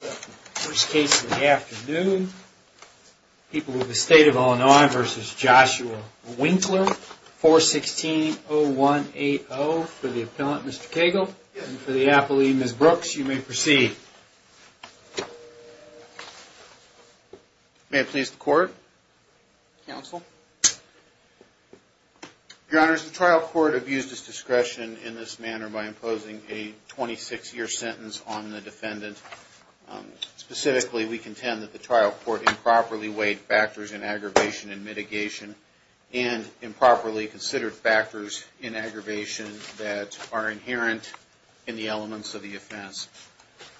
First case of the afternoon, People of the State of Illinois v. Joshua Winkler, 416-0180. For the appellant, Mr. Cagle, and for the appellee, Ms. Brooks, you may proceed. May I please the court? Counsel. Your Honor, the trial court abused its discretion in this manner by imposing a 26-year sentence on the defendant. Specifically, we contend that the trial court improperly weighed factors in aggravation and mitigation and improperly considered factors in aggravation that are inherent in the elements of the offense.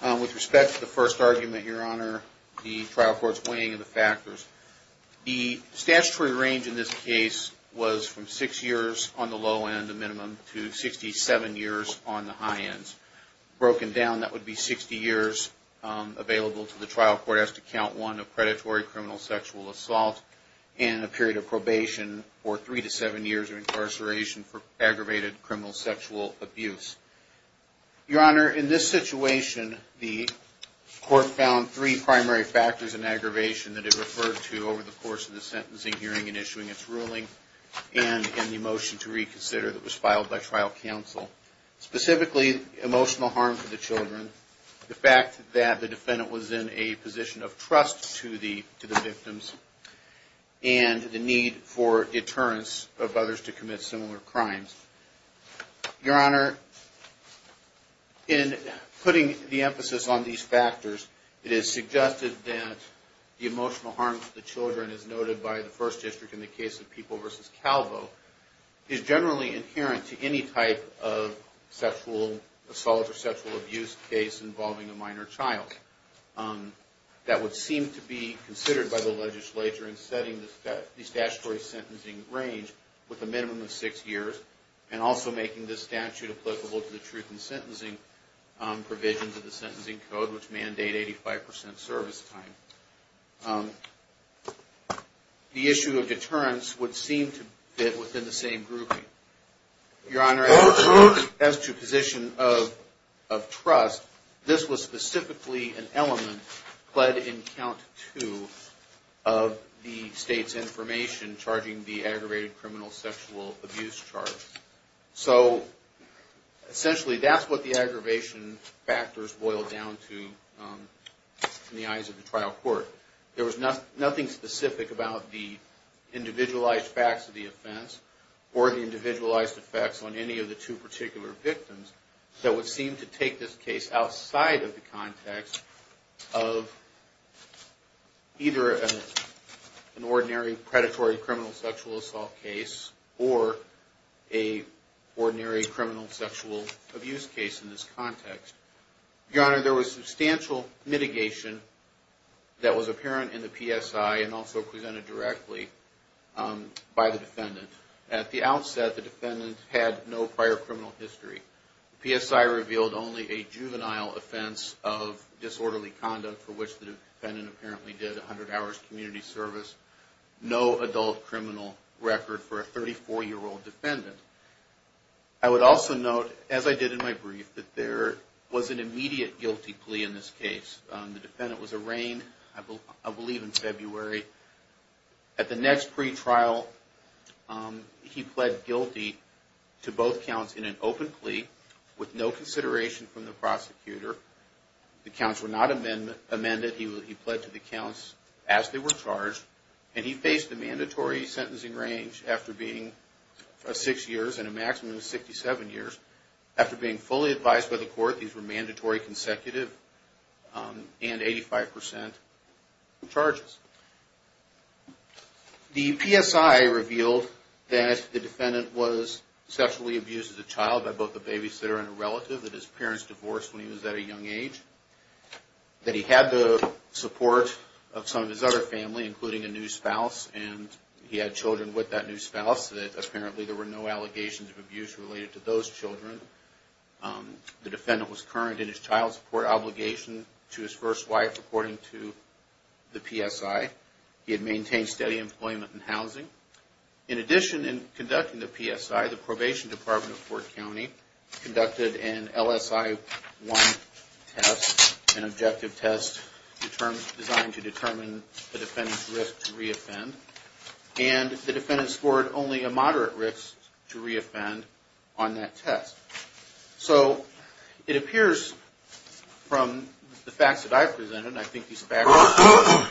With respect to the first argument, Your Honor, the trial court's weighing of the factors, the statutory range in this case was from six years on the low end, a minimum, to 67 years on the high end. Broken down, that would be 60 years available to the trial court as to count one of predatory criminal sexual assault and a period of probation for three to seven years of incarceration for aggravated criminal sexual abuse. Your Honor, in this situation, the court found three primary factors in aggravation that it referred to over the course of the sentencing hearing and issuing its ruling and in the motion to reconsider that was filed by trial counsel. Specifically, emotional harm to the children, the fact that the defendant was in a position of trust to the victims, and the need for deterrence of others to commit similar crimes. Your Honor, in putting the emphasis on these factors, it is suggested that the emotional harm to the children as noted by the First District in the case of People v. Calvo is generally inherent to any type of sexual assault or sexual abuse case involving a minor child. That would seem to be considered by the legislature in setting the statutory sentencing range with a minimum of six years and also making this statute applicable to the truth in sentencing provisions of the sentencing code, which mandate 85 percent service time. The issue of deterrence would seem to fit within the same grouping. Your Honor, as to position of trust, this was specifically an element, but in count two, of the state's information charging the aggravated criminal sexual abuse charge. So, essentially, that's what the aggravation factors boil down to in the eyes of the trial court. There was nothing specific about the individualized facts of the offense or the individualized effects on any of the two either an ordinary predatory criminal sexual assault case or an ordinary criminal sexual abuse case in this context. Your Honor, there was substantial mitigation that was apparent in the PSI and also presented directly by the defendant. At the outset, the defendant had no prior criminal history. The PSI revealed only a juvenile offense of disorderly conduct for which the defendant apparently did 100 hours community service. No adult criminal record for a 34-year-old defendant. I would also note, as I did in my brief, that there was an immediate guilty plea in this case. The defendant was arraigned, I believe in February. At the next pretrial, he pled guilty to both counts in an open plea with no consideration from the prosecutor. The counts were not amended. He pled to the counts as they were charged. He faced a mandatory sentencing range after being six years and a maximum of 67 years. After being fully advised by the court, these were mandatory consecutive and 85% charges. The PSI revealed that the defendant was sexually abused as a child by both a babysitter and a relative, that his parents divorced when he was at a young age, that he had the support of some of his other family, including a new spouse, and he had children with that new spouse, that apparently there were no allegations of abuse related to those children. The defendant was current in his child support obligation to his first wife, according to the PSI. He had maintained steady employment and housing. In addition, in conducting the PSI, the Probation Department of Fort County conducted an LSI-1 test, an objective test designed to determine the defendant's risk to re-offend, and the defendant scored only a moderate risk to re-offend on that test. So it appears from the facts that I've presented, and I think these facts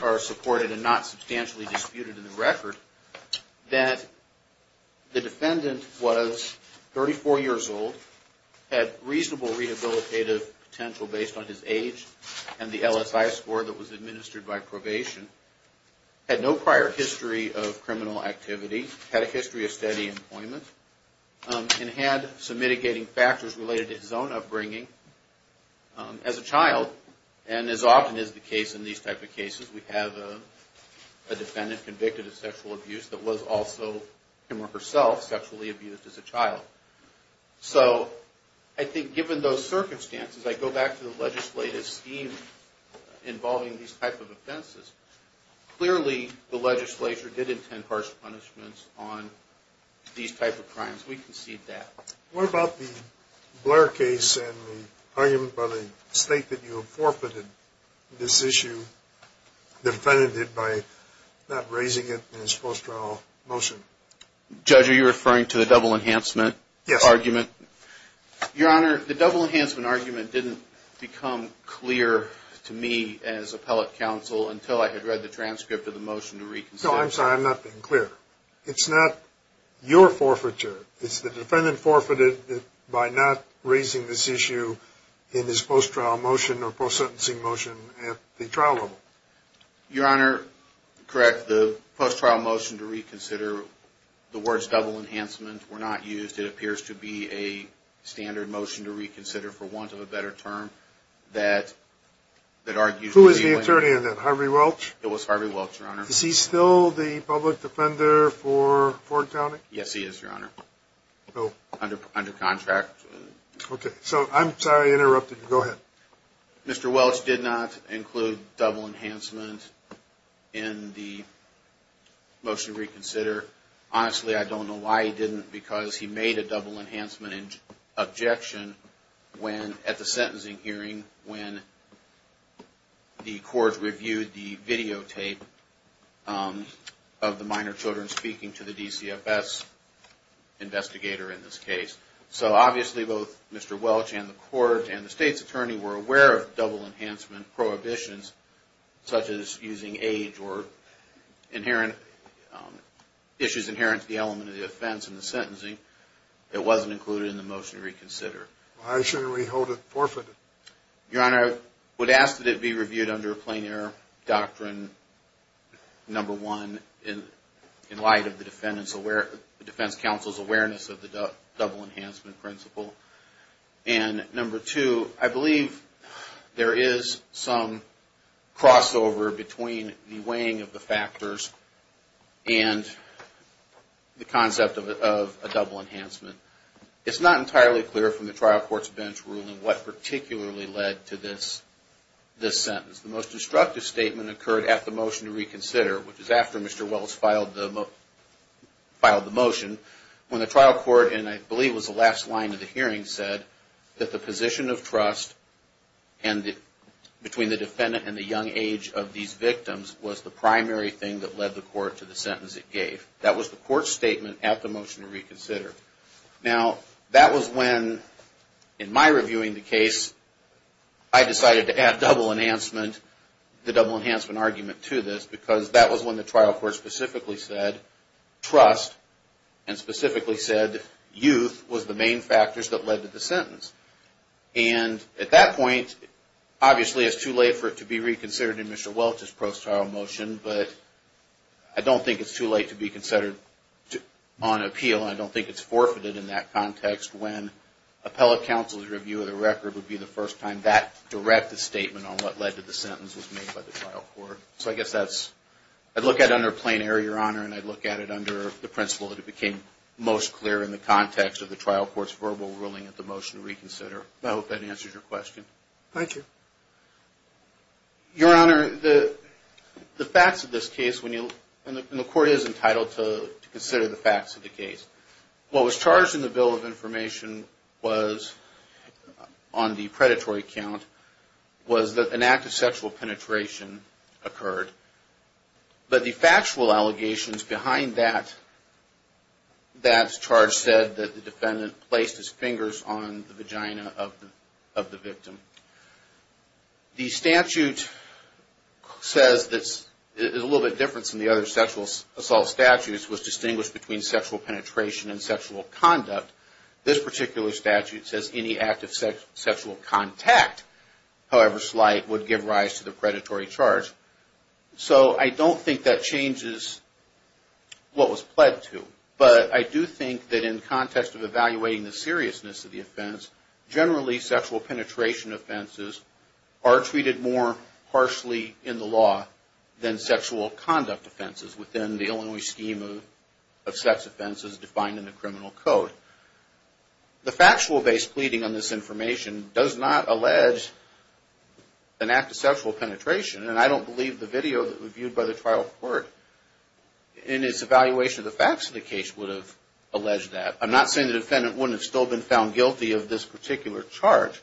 are supported and not substantially disputed in the record, that the defendant was 34 years old, had reasonable rehabilitative potential based on his age and the LSI score that was administered by probation, had no prior history of criminal activity, had a history of steady employment, and had some mitigating factors related to his own upbringing as a child. And as often is the case in these type of cases, we have a defendant convicted of sexual abuse that was also him or herself sexually abused as a child. So I think given those circumstances, I go back to the legislative scheme involving these type of offenses. Clearly, the legislature did intend harsh punishments on these type of crimes. We concede that. What about the Blair case and the argument by the state that you have forfeited this issue? The defendant did by not raising it in his post-trial motion. Judge, are you referring to the double enhancement argument? Your Honor, the double enhancement argument didn't become clear to me as appellate counsel until I had read the transcript of the motion to reconsider. No, I'm sorry. I'm not being clear. It's not your forfeiture. It's the defendant forfeited it by not raising this issue in his post-trial motion or post-sentencing motion at the trial level. Your Honor, correct. The post-trial motion to reconsider, the words double enhancement were not used. It appears to be a standard motion to reconsider for want of a better term that argues... Who is the attorney in that? Harvey Welch? It was Harvey Welch, Your Honor. Is he still the public defender for Ford County? Yes, he is, Your Honor. Under contract. Okay, so I'm sorry I interrupted you. Go ahead. Mr. Welch did not include double enhancement in the motion to reconsider. Honestly, I don't know why he didn't because he made a double enhancement objection at the sentencing hearing when the court reviewed the videotape of the minor children speaking to the DCFS investigator in this case. So obviously both Mr. Welch and the court and the state's attorney were aware of double enhancement prohibitions, such as using age or issues inherent to the element of the offense in the sentencing. It wasn't included in the motion to reconsider. Why shouldn't we hold it forfeited? Your Honor, I would ask that it be reviewed under a plein air doctrine, number one, in light of the defense counsel's awareness of the double enhancement principle. And number two, I believe there is some crossover between the weighing of the factors and the concept of a double enhancement. It's not entirely clear from the trial court's bench ruling what particularly led to this sentence. The most instructive statement occurred at the motion to reconsider, which is after Mr. Welch filed the motion, when the trial court, and I believe it was the last line of the hearing, said that the position of trust between the defendant and the young age of these victims was the primary thing that led the court to the sentence it gave. That was the court's statement at the motion to reconsider. Now, that was when, in my reviewing the case, I decided to add double enhancement, the double enhancement argument to this, because that was when the trial court specifically said trust, and specifically said youth was the main factors that led to the sentence. And at that point, obviously it's too late for it to be reconsidered in Mr. Welch's post-trial motion, but I don't think it's too late to be considered on appeal, and I don't think it's forfeited in that context, when appellate counsel's review of the record would be the first time that directed statement on what led to the sentence was made by the trial court. So I guess that's, I'd look at it under plain error, Your Honor, and I'd look at it under the principle that it became most clear in the context of the trial court's verbal ruling at the motion to reconsider. I hope that answers your question. Thank you. Your Honor, the facts of this case, and the court is entitled to consider the facts of the case. What was charged in the Bill of Information was, on the predatory count, was that an act of sexual penetration occurred. But the factual allegations behind that charge said that the defendant placed his fingers on the vagina of the victim. The statute says, it's a little bit different than the other sexual assault statutes, was distinguished between sexual penetration and sexual conduct. This particular statute says any act of sexual contact, however slight, would give rise to the predatory charge. So I don't think that changes what was pled to. But I do think that in context of evaluating the seriousness of the offense, generally sexual penetration offenses are treated more harshly in the law than sexual conduct offenses within the Illinois scheme of sex offenses defined in the criminal code. The factual base pleading on this information does not allege an act of sexual penetration, and I don't believe the video that was viewed by the trial court in its evaluation of the facts of the case would have alleged that. I'm not saying the defendant wouldn't have still been found guilty of this particular charge,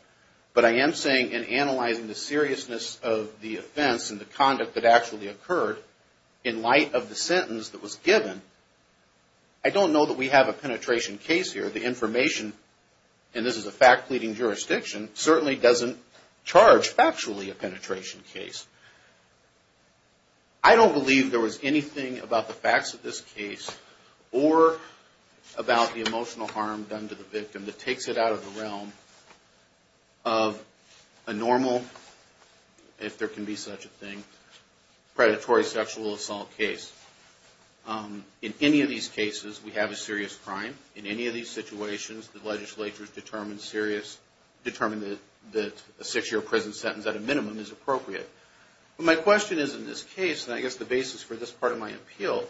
but I am saying in analyzing the seriousness of the offense and the conduct that actually occurred, in light of the sentence that was given, I don't know that we have a penetration case here. The information, and this is a fact pleading jurisdiction, certainly doesn't charge factually a penetration case. I don't believe there was anything about the facts of this case or about the emotional harm done to the victim that takes it out of the realm of a normal, if there can be such a thing, predatory sexual assault case. In any of these cases, we have a serious crime. In any of these situations, the legislature has determined that a six-year prison sentence at a minimum is appropriate. My question is in this case, and I guess the basis for this part of my appeal,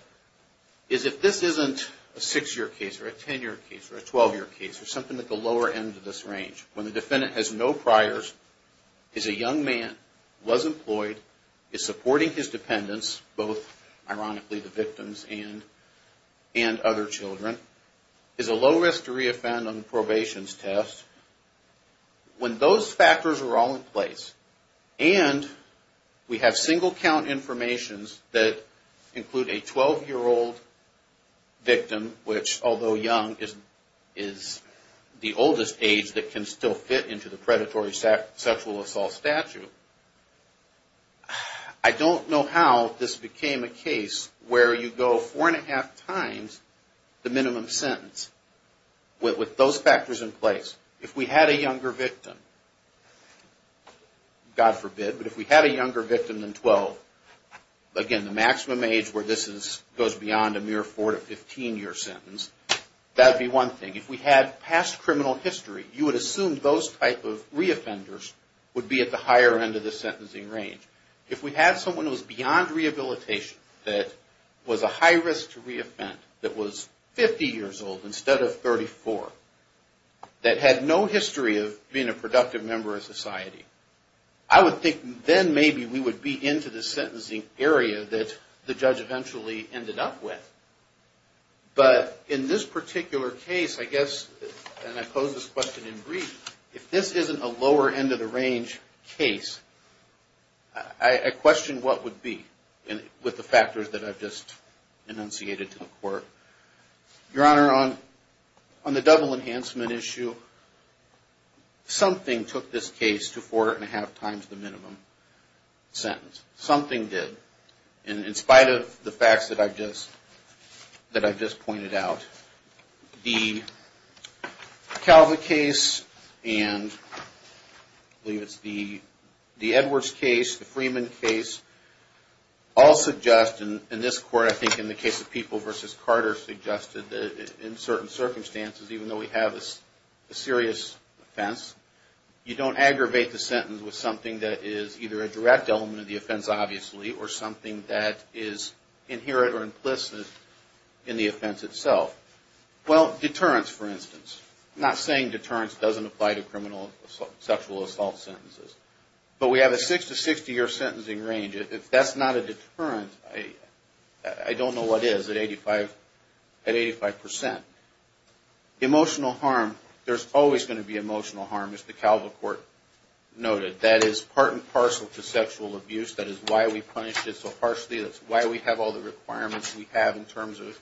is if this isn't a six-year case or a 10-year case or a 12-year case or something at the lower end of this range, when the defendant has no priors, is a young man, was employed, is supporting his dependents, both, ironically, the victims and other children, is a low-risk to re-offend on probation test, when those factors are all in place, and we have single-count information that include a 12-year-old victim, which, although young, is the oldest age that can still fit into the predatory sexual assault statute, I don't know how this became a case where you go four-and-a-half times the minimum sentence. With those factors in place, if we had a younger victim, God forbid, but if we had a younger victim than 12, again, the maximum age where this goes beyond a mere four- to 15-year sentence, that would be one thing. If we had past criminal history, you would assume those type of re-offenders would be at the higher end of the sentencing range. If we had someone who was beyond rehabilitation, that was a high-risk to re-offend, that was 50 years old instead of 34, that had no history of being a productive member of society, I would think then maybe we would be into the sentencing area that the judge eventually ended up with. But in this particular case, I guess, and I pose this question in brief, if this isn't a lower-end-of-the-range case, I question what would be with the factors that I've just enunciated to the Court. Your Honor, on the double-enhancement issue, something took this case to four-and-a-half times the minimum sentence. Something did. And in spite of the facts that I've just pointed out, the Calva case and I believe it's the Edwards case, the Freeman case, all suggest, and this Court, I think, in the case of People v. Carter, suggested that in certain circumstances, even though we have a serious offense, you don't aggravate the sentence with something that is either a direct element of the offense, obviously, or something that is inherent or implicit in the offense itself. Well, deterrence, for instance. I'm not saying deterrence doesn't apply to criminal sexual assault sentences. But we have a six-to-60-year sentencing range. If that's not a deterrent, I don't know what is at 85 percent. Emotional harm, there's always going to be emotional harm, as the Calva Court noted. That is part and parcel to sexual abuse. That is why we punished it so harshly. That's why we have all the requirements we have in terms of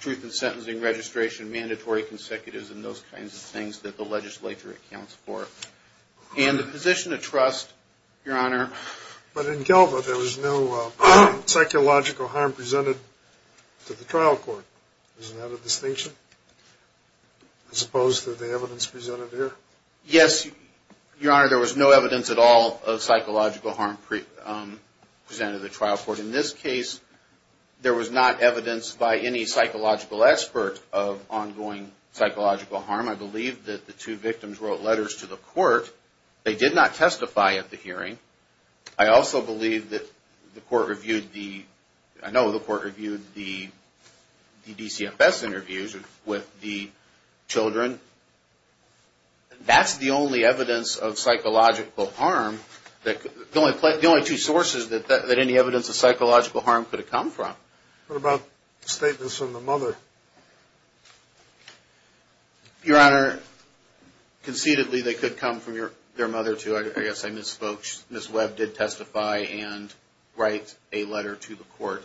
truth in sentencing registration, mandatory consecutives, and those kinds of things that the legislature accounts for. And the position of trust, Your Honor. But in Calva, there was no psychological harm presented to the trial court. Is that a distinction? I suppose that the question is, yes, Your Honor, there was no evidence at all of psychological harm presented to the trial court. In this case, there was not evidence by any psychological expert of ongoing psychological harm. I believe that the two victims wrote letters to the court. They did not testify at the hearing. I also believe that the court reviewed the, I know the court reviewed the DCFS interviews with the children. The children were not present. That's the only evidence of psychological harm. The only two sources that any evidence of psychological harm could have come from. What about statements from the mother? Your Honor, conceitedly, they could come from their mother, too. I guess I misspoke. Ms. Webb did testify and write a letter to the court.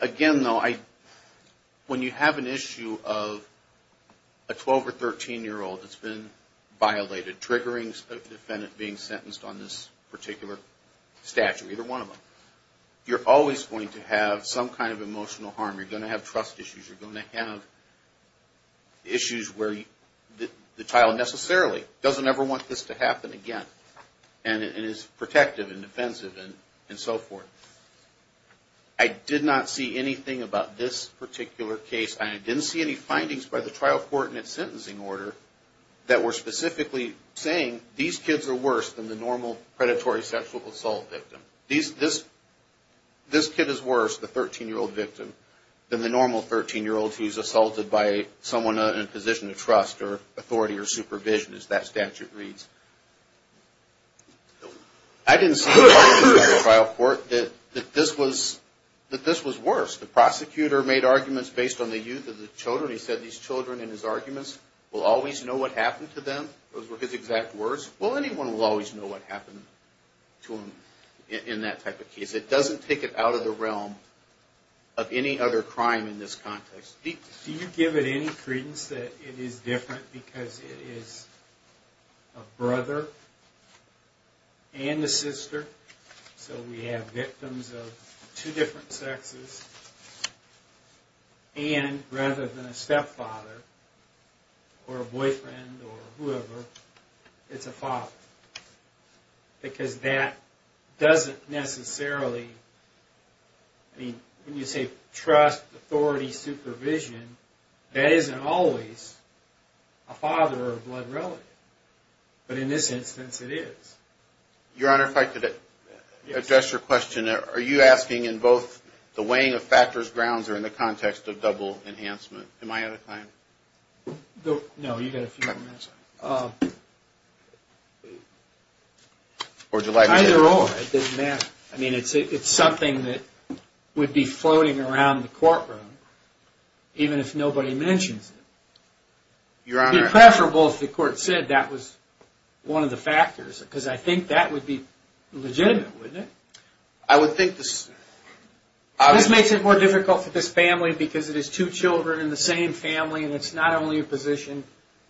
Again, though, when you have an issue of a 12 or 13-year-old that's been sexually abused, it's not a matter of violated triggerings of the defendant being sentenced on this particular statute, either one of them. You're always going to have some kind of emotional harm. You're going to have trust issues. You're going to have issues where the child necessarily doesn't ever want this to happen again. And it's protective and defensive and so forth. I did not see anything about this particular case. I didn't see any findings by the trial court in its case, specifically saying these kids are worse than the normal predatory sexual assault victim. This kid is worse, the 13-year-old victim, than the normal 13-year-old who's assaulted by someone in a position of trust or authority or supervision, as that statute reads. I didn't see any findings by the trial court that this was worse. The prosecutor made arguments based on the youth of the children. He said these children, in his arguments, will always know what happened to them. Those were his exact words. Well, anyone will always know what happened to them in that type of case. It doesn't take it out of the realm of any other crime in this context. Do you give it any credence that it is different because it is a brother and a sister, so we have victims of two different sexes, and rather than a stepfather or a boyfriend or whoever, it's a father? Because that doesn't necessarily, I mean, when you say trust, authority, supervision, that isn't always a father or a blood relative. But in this instance, it is. Your Honor, if I could address your question. Are you asking in both the weighing of factors, grounds, or in the context of double enhancement? Am I correct? No, you've got a few more minutes. Either or, it doesn't matter. I mean, it's something that would be floating around the courtroom, even if nobody mentions it. It would be preferable if the court said that was one of the factors, because I think that would be legitimate, wouldn't it? I would think this... This makes it more difficult for this family, because it is two children in the same family, and it's not only a position,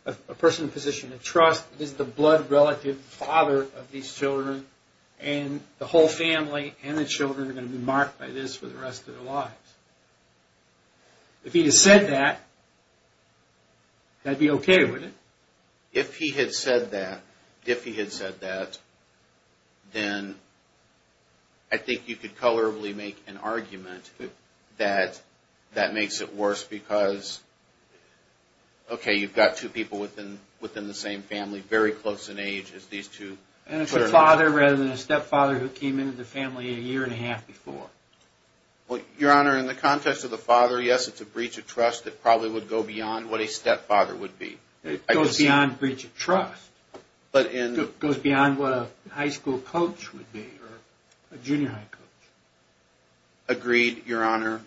a person in a position of trust, it is the blood relative, the father of these children, and the whole family and the children are going to be marked by this for the rest of their lives. If he had said that, that would be okay, wouldn't it? If he had said that, then I think you could colorably make an argument that that makes it worse, because, okay, you've got two people within the same family, very close in age, as these two... And it's a father rather than a stepfather who came into the family a year and a half before. Well, Your Honor, in the context of the father, yes, it's a breach of trust that probably would go beyond what a stepfather would be. It goes beyond breach of trust. It goes beyond what a high school coach would be, or a junior high coach. Agreed, Your Honor.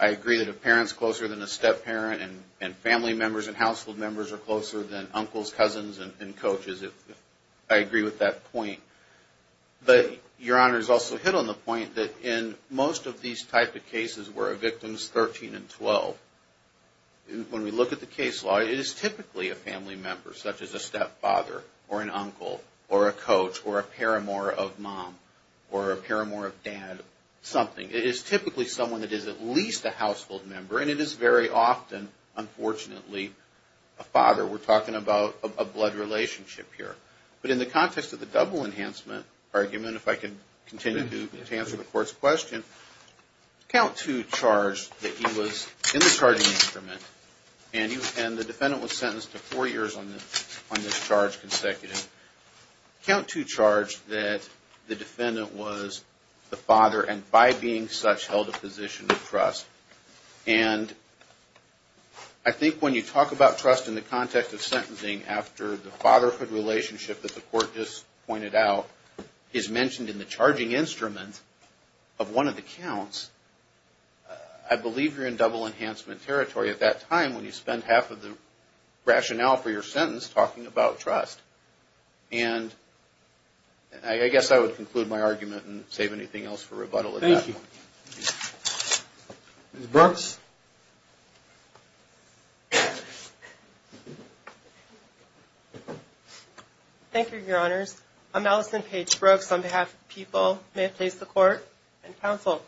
I agree that a parent is closer than a step-parent, and family members and household members are closer than uncles, cousins, and coaches. I agree with that point. But Your Honor has also hit on the point that in most of these type of cases where a victim is 13 and 12, when we look at the case law, it is typically someone who is at least a household member, or a coach, or a paramour of mom, or a paramour of dad, something. It is typically someone that is at least a household member, and it is very often, unfortunately, a father. We're talking about a blood relationship here. But in the context of the double enhancement argument, if I can continue to answer the Court's question, count two charge that he was in the charging instrument, and the defendant was sentenced to four years on this charge consecutive, and the count two charge that the defendant was the father, and by being such, held a position of trust. And I think when you talk about trust in the context of sentencing after the fatherhood relationship that the Court just pointed out is mentioned in the charging instrument of one of the counts, I believe you're in double enhancement territory at that time when you spend half of the time. And I guess I would conclude my argument and save anything else for rebuttal at that point. Thank you. Ms. Brooks? Thank you, Your Honors. I'm Allison Paige Brooks on behalf of the people. May it please the Court and Counsel.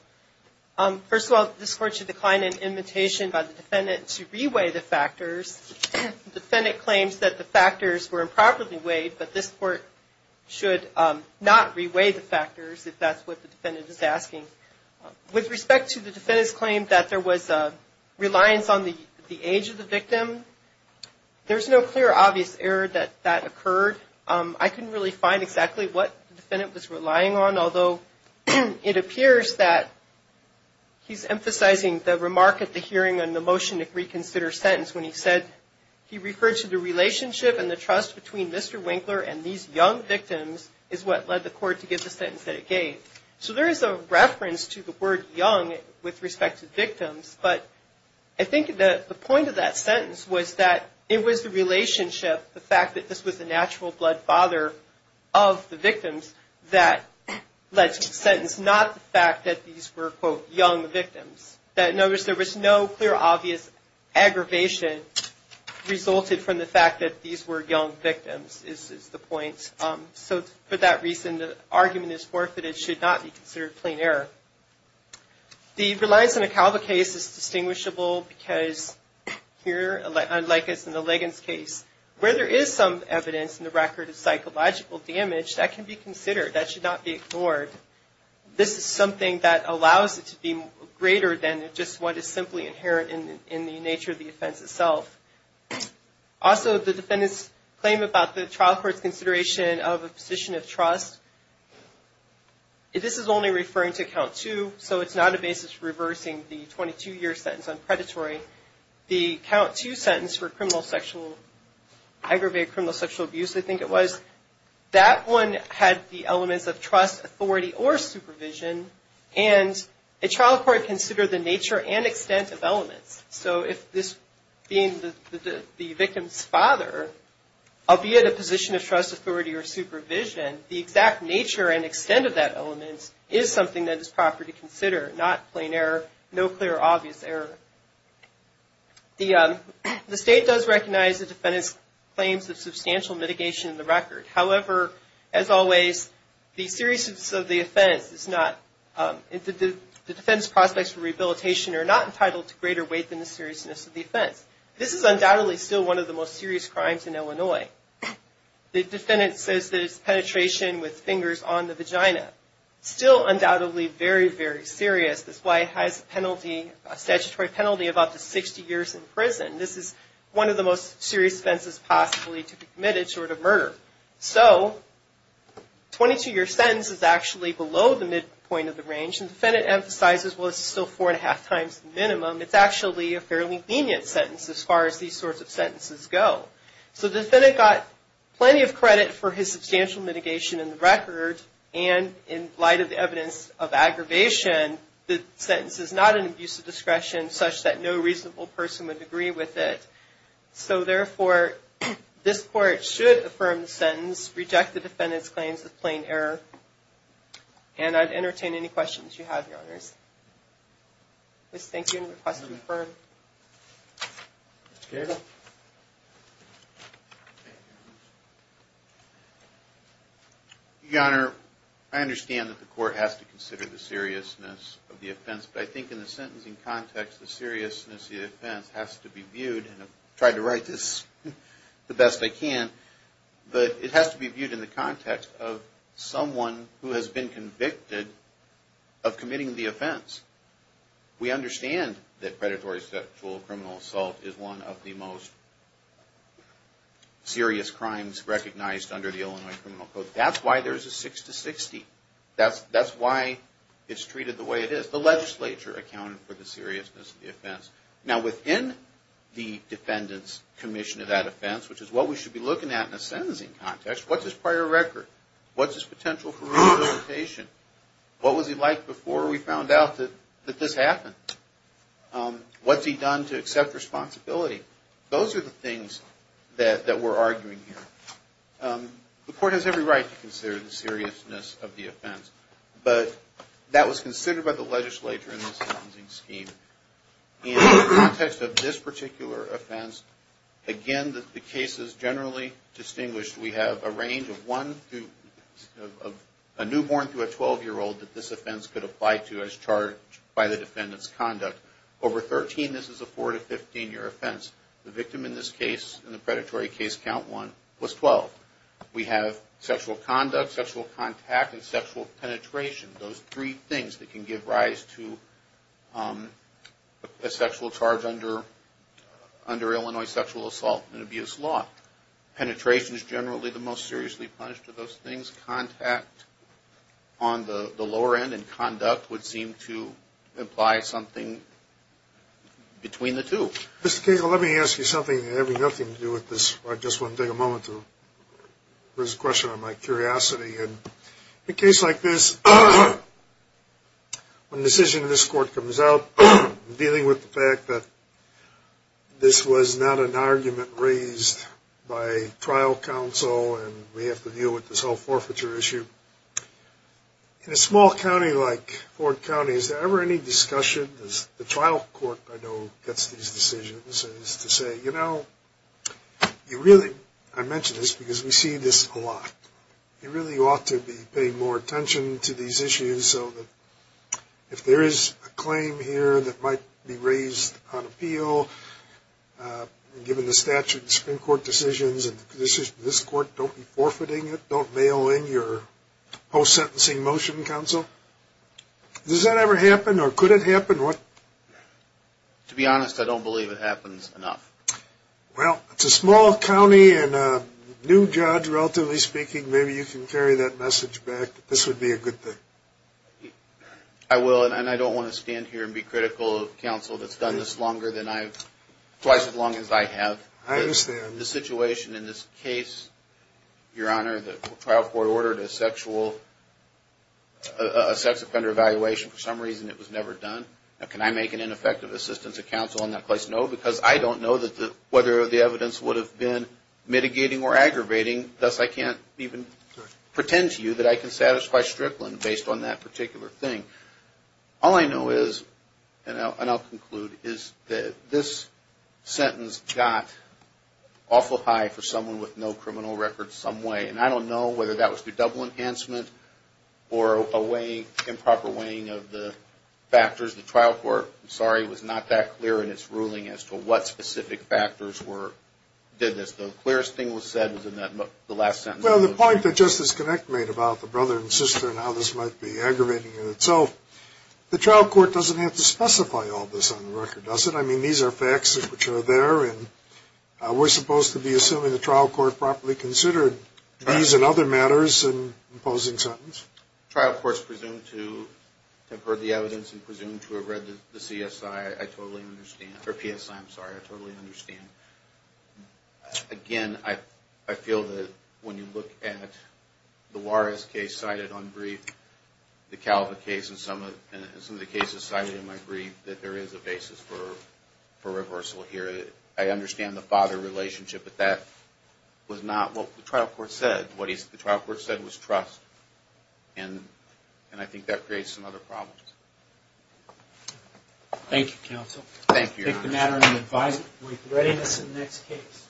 First of all, this Court should decline an invitation by the defendant to re-weigh the factors. The defendant claims that the factors were properly weighed, but this Court should not re-weigh the factors, if that's what the defendant is asking. With respect to the defendant's claim that there was a reliance on the age of the victim, there's no clear, obvious error that that occurred. I couldn't really find exactly what the defendant was relying on, although it appears that he's emphasizing the remark at the hearing and the relationship and the trust between Mr. Winkler and these young victims is what led the Court to give the sentence that it gave. So there is a reference to the word young with respect to victims, but I think the point of that sentence was that it was the relationship, the fact that this was the natural blood father of the victims that led to the sentence, not the fact that these were quote, young victims. That notice there was no clear, obvious aggravation resulted from the fact that these were young victims. This is the point. So for that reason, the argument is forfeited, should not be considered plain error. The reliance on a Calva case is distinguishable because here, like as in the Liggins case, where there is some evidence in the record of psychological damage, that can be considered, that should not be ignored. This is something that allows it to be greater than just what is simply inherent in the nature of the case. So the defendant's claim about the trial court's consideration of a position of trust, this is only referring to count two, so it's not a basis for reversing the 22-year sentence on predatory. The count two sentence for criminal sexual, aggravated criminal sexual abuse, I think it was, that one had the elements of trust, authority, or supervision, and a trial court considered the nature and extent of that element. So rather, albeit a position of trust, authority, or supervision, the exact nature and extent of that element is something that is proper to consider, not plain error, no clear, obvious error. The state does recognize the defendant's claims of substantial mitigation in the record. However, as always, the seriousness of the offense is not, the defendant's prospects for rehabilitation are not entitled to greater weight than the seriousness of the offense. This is undoubtedly still one of the most serious offenses in the history of abuse crimes in Illinois. The defendant says that it's penetration with fingers on the vagina. Still undoubtedly very, very serious. This client has a penalty, a statutory penalty, of up to 60 years in prison. This is one of the most serious offenses possibly to be committed short of murder. So, 22-year sentence is actually below the midpoint of the range, and the defendant emphasizes, well, it's still four and a half times the minimum. It's actually a fairly lenient sentence as far as these sorts of things are concerned. So the defendant got plenty of credit for his substantial mitigation in the record, and in light of the evidence of aggravation, the sentence is not an abuse of discretion such that no reasonable person would agree with it. So therefore, this Court should affirm the sentence, reject the defendant's claims of plain error, and I'd entertain any questions you have, Your Honors. I just thank you for your question. Thank you. Your Honor, I understand that the Court has to consider the seriousness of the offense, but I think in the sentencing context, the seriousness of the offense has to be viewed, and I've tried to write this the best I can, but it has to be viewed in the context of someone who has been convicted of committing the offense. We understand that predatory sexual or criminal assault is one of the most serious crimes recognized under the Illinois Criminal Code. That's why there's a six to sixty. That's why it's treated the way it is. The legislature accounted for the seriousness of the offense. Now within the defendant's commission of that offense, which is what we should be looking at in a sentencing context, what's his prior record? What's his potential for rehabilitation? What was he like before we found out that this happened? What's his history? What has he done to accept responsibility? Those are the things that we're arguing here. The Court has every right to consider the seriousness of the offense, but that was considered by the legislature in this sentencing scheme. In the context of this particular offense, again, the case is generally distinguished. We have a range of one to a newborn to a twelve-year-old that this offense could apply to as charged by the defendant's conduct. Over thirteen of these cases, we have a range of four to fifteen-year offense. The victim in this case, in the predatory case count one, was twelve. We have sexual conduct, sexual contact, and sexual penetration. Those three things that can give rise to a sexual charge under Illinois sexual assault and abuse law. Penetration is generally the most seriously punished of those things. Contact on the lower end of the spectrum, and then conduct would seem to imply something between the two. Mr. Cagle, let me ask you something that has nothing to do with this. I just want to take a moment to raise a question out of my curiosity. In a case like this, when the decision of this Court comes out, dealing with the fact that this was not an argument raised by trial counsel, and we have to deal with this whole forfeiture issue, in a small county like Ford County, is there ever any discussion, as the trial court I know gets these decisions, to say, you know, you really, I mention this because we see this a lot, you really ought to be paying more attention to these issues so that if there is a claim here that might be raised on appeal, given the statute and Supreme Court decisions, and this Court don't be forfeiting it, don't mail in your post-sentencing motion, counsel? Does that ever happen, or could it happen? To be honest, I don't believe it happens enough. Well, it's a small county, and a new judge, relatively speaking, maybe you can carry that message back, that this would be a good thing. I will, and I don't want to stand here and be critical of counsel that's done this longer than I've, twice as long as I have. I understand. The situation I'm in is a situation in this case, Your Honor, the trial court ordered a sexual, a sex offender evaluation, for some reason it was never done. Now, can I make an ineffective assistance of counsel in that case? No, because I don't know whether the evidence would have been mitigating or aggravating, thus I can't even pretend to you that I can satisfy Strickland based on that particular thing. All I know is, and I'll conclude, is that this sentence got awful heavy, and I don't want to be critical of counsel, but it was so high for someone with no criminal record some way, and I don't know whether that was the double enhancement, or a weighing, improper weighing of the factors. The trial court, I'm sorry, was not that clear in its ruling as to what specific factors were, did this. The clearest thing was said was in that last sentence. Well, the point that Justice Connick made about the brother and sister and how this might be aggravating in itself, the trial court doesn't have to specify all this on the record, does it? I mean, these are facts which are there, and we're supposed to be assuming the trial court properly considered these and other matters in imposing sentence. The trial court's presumed to have heard the evidence and presumed to have read the CSI, I totally understand, or PSI, I'm sorry, I totally understand. Again, I feel that when you look at the Juarez case cited on brief, the father relationship, but that was not what the trial court said. What the trial court said was trust, and I think that creates some other problems. Thank you, counsel. Thank you. Take the matter under advisement. With readiness in the next case.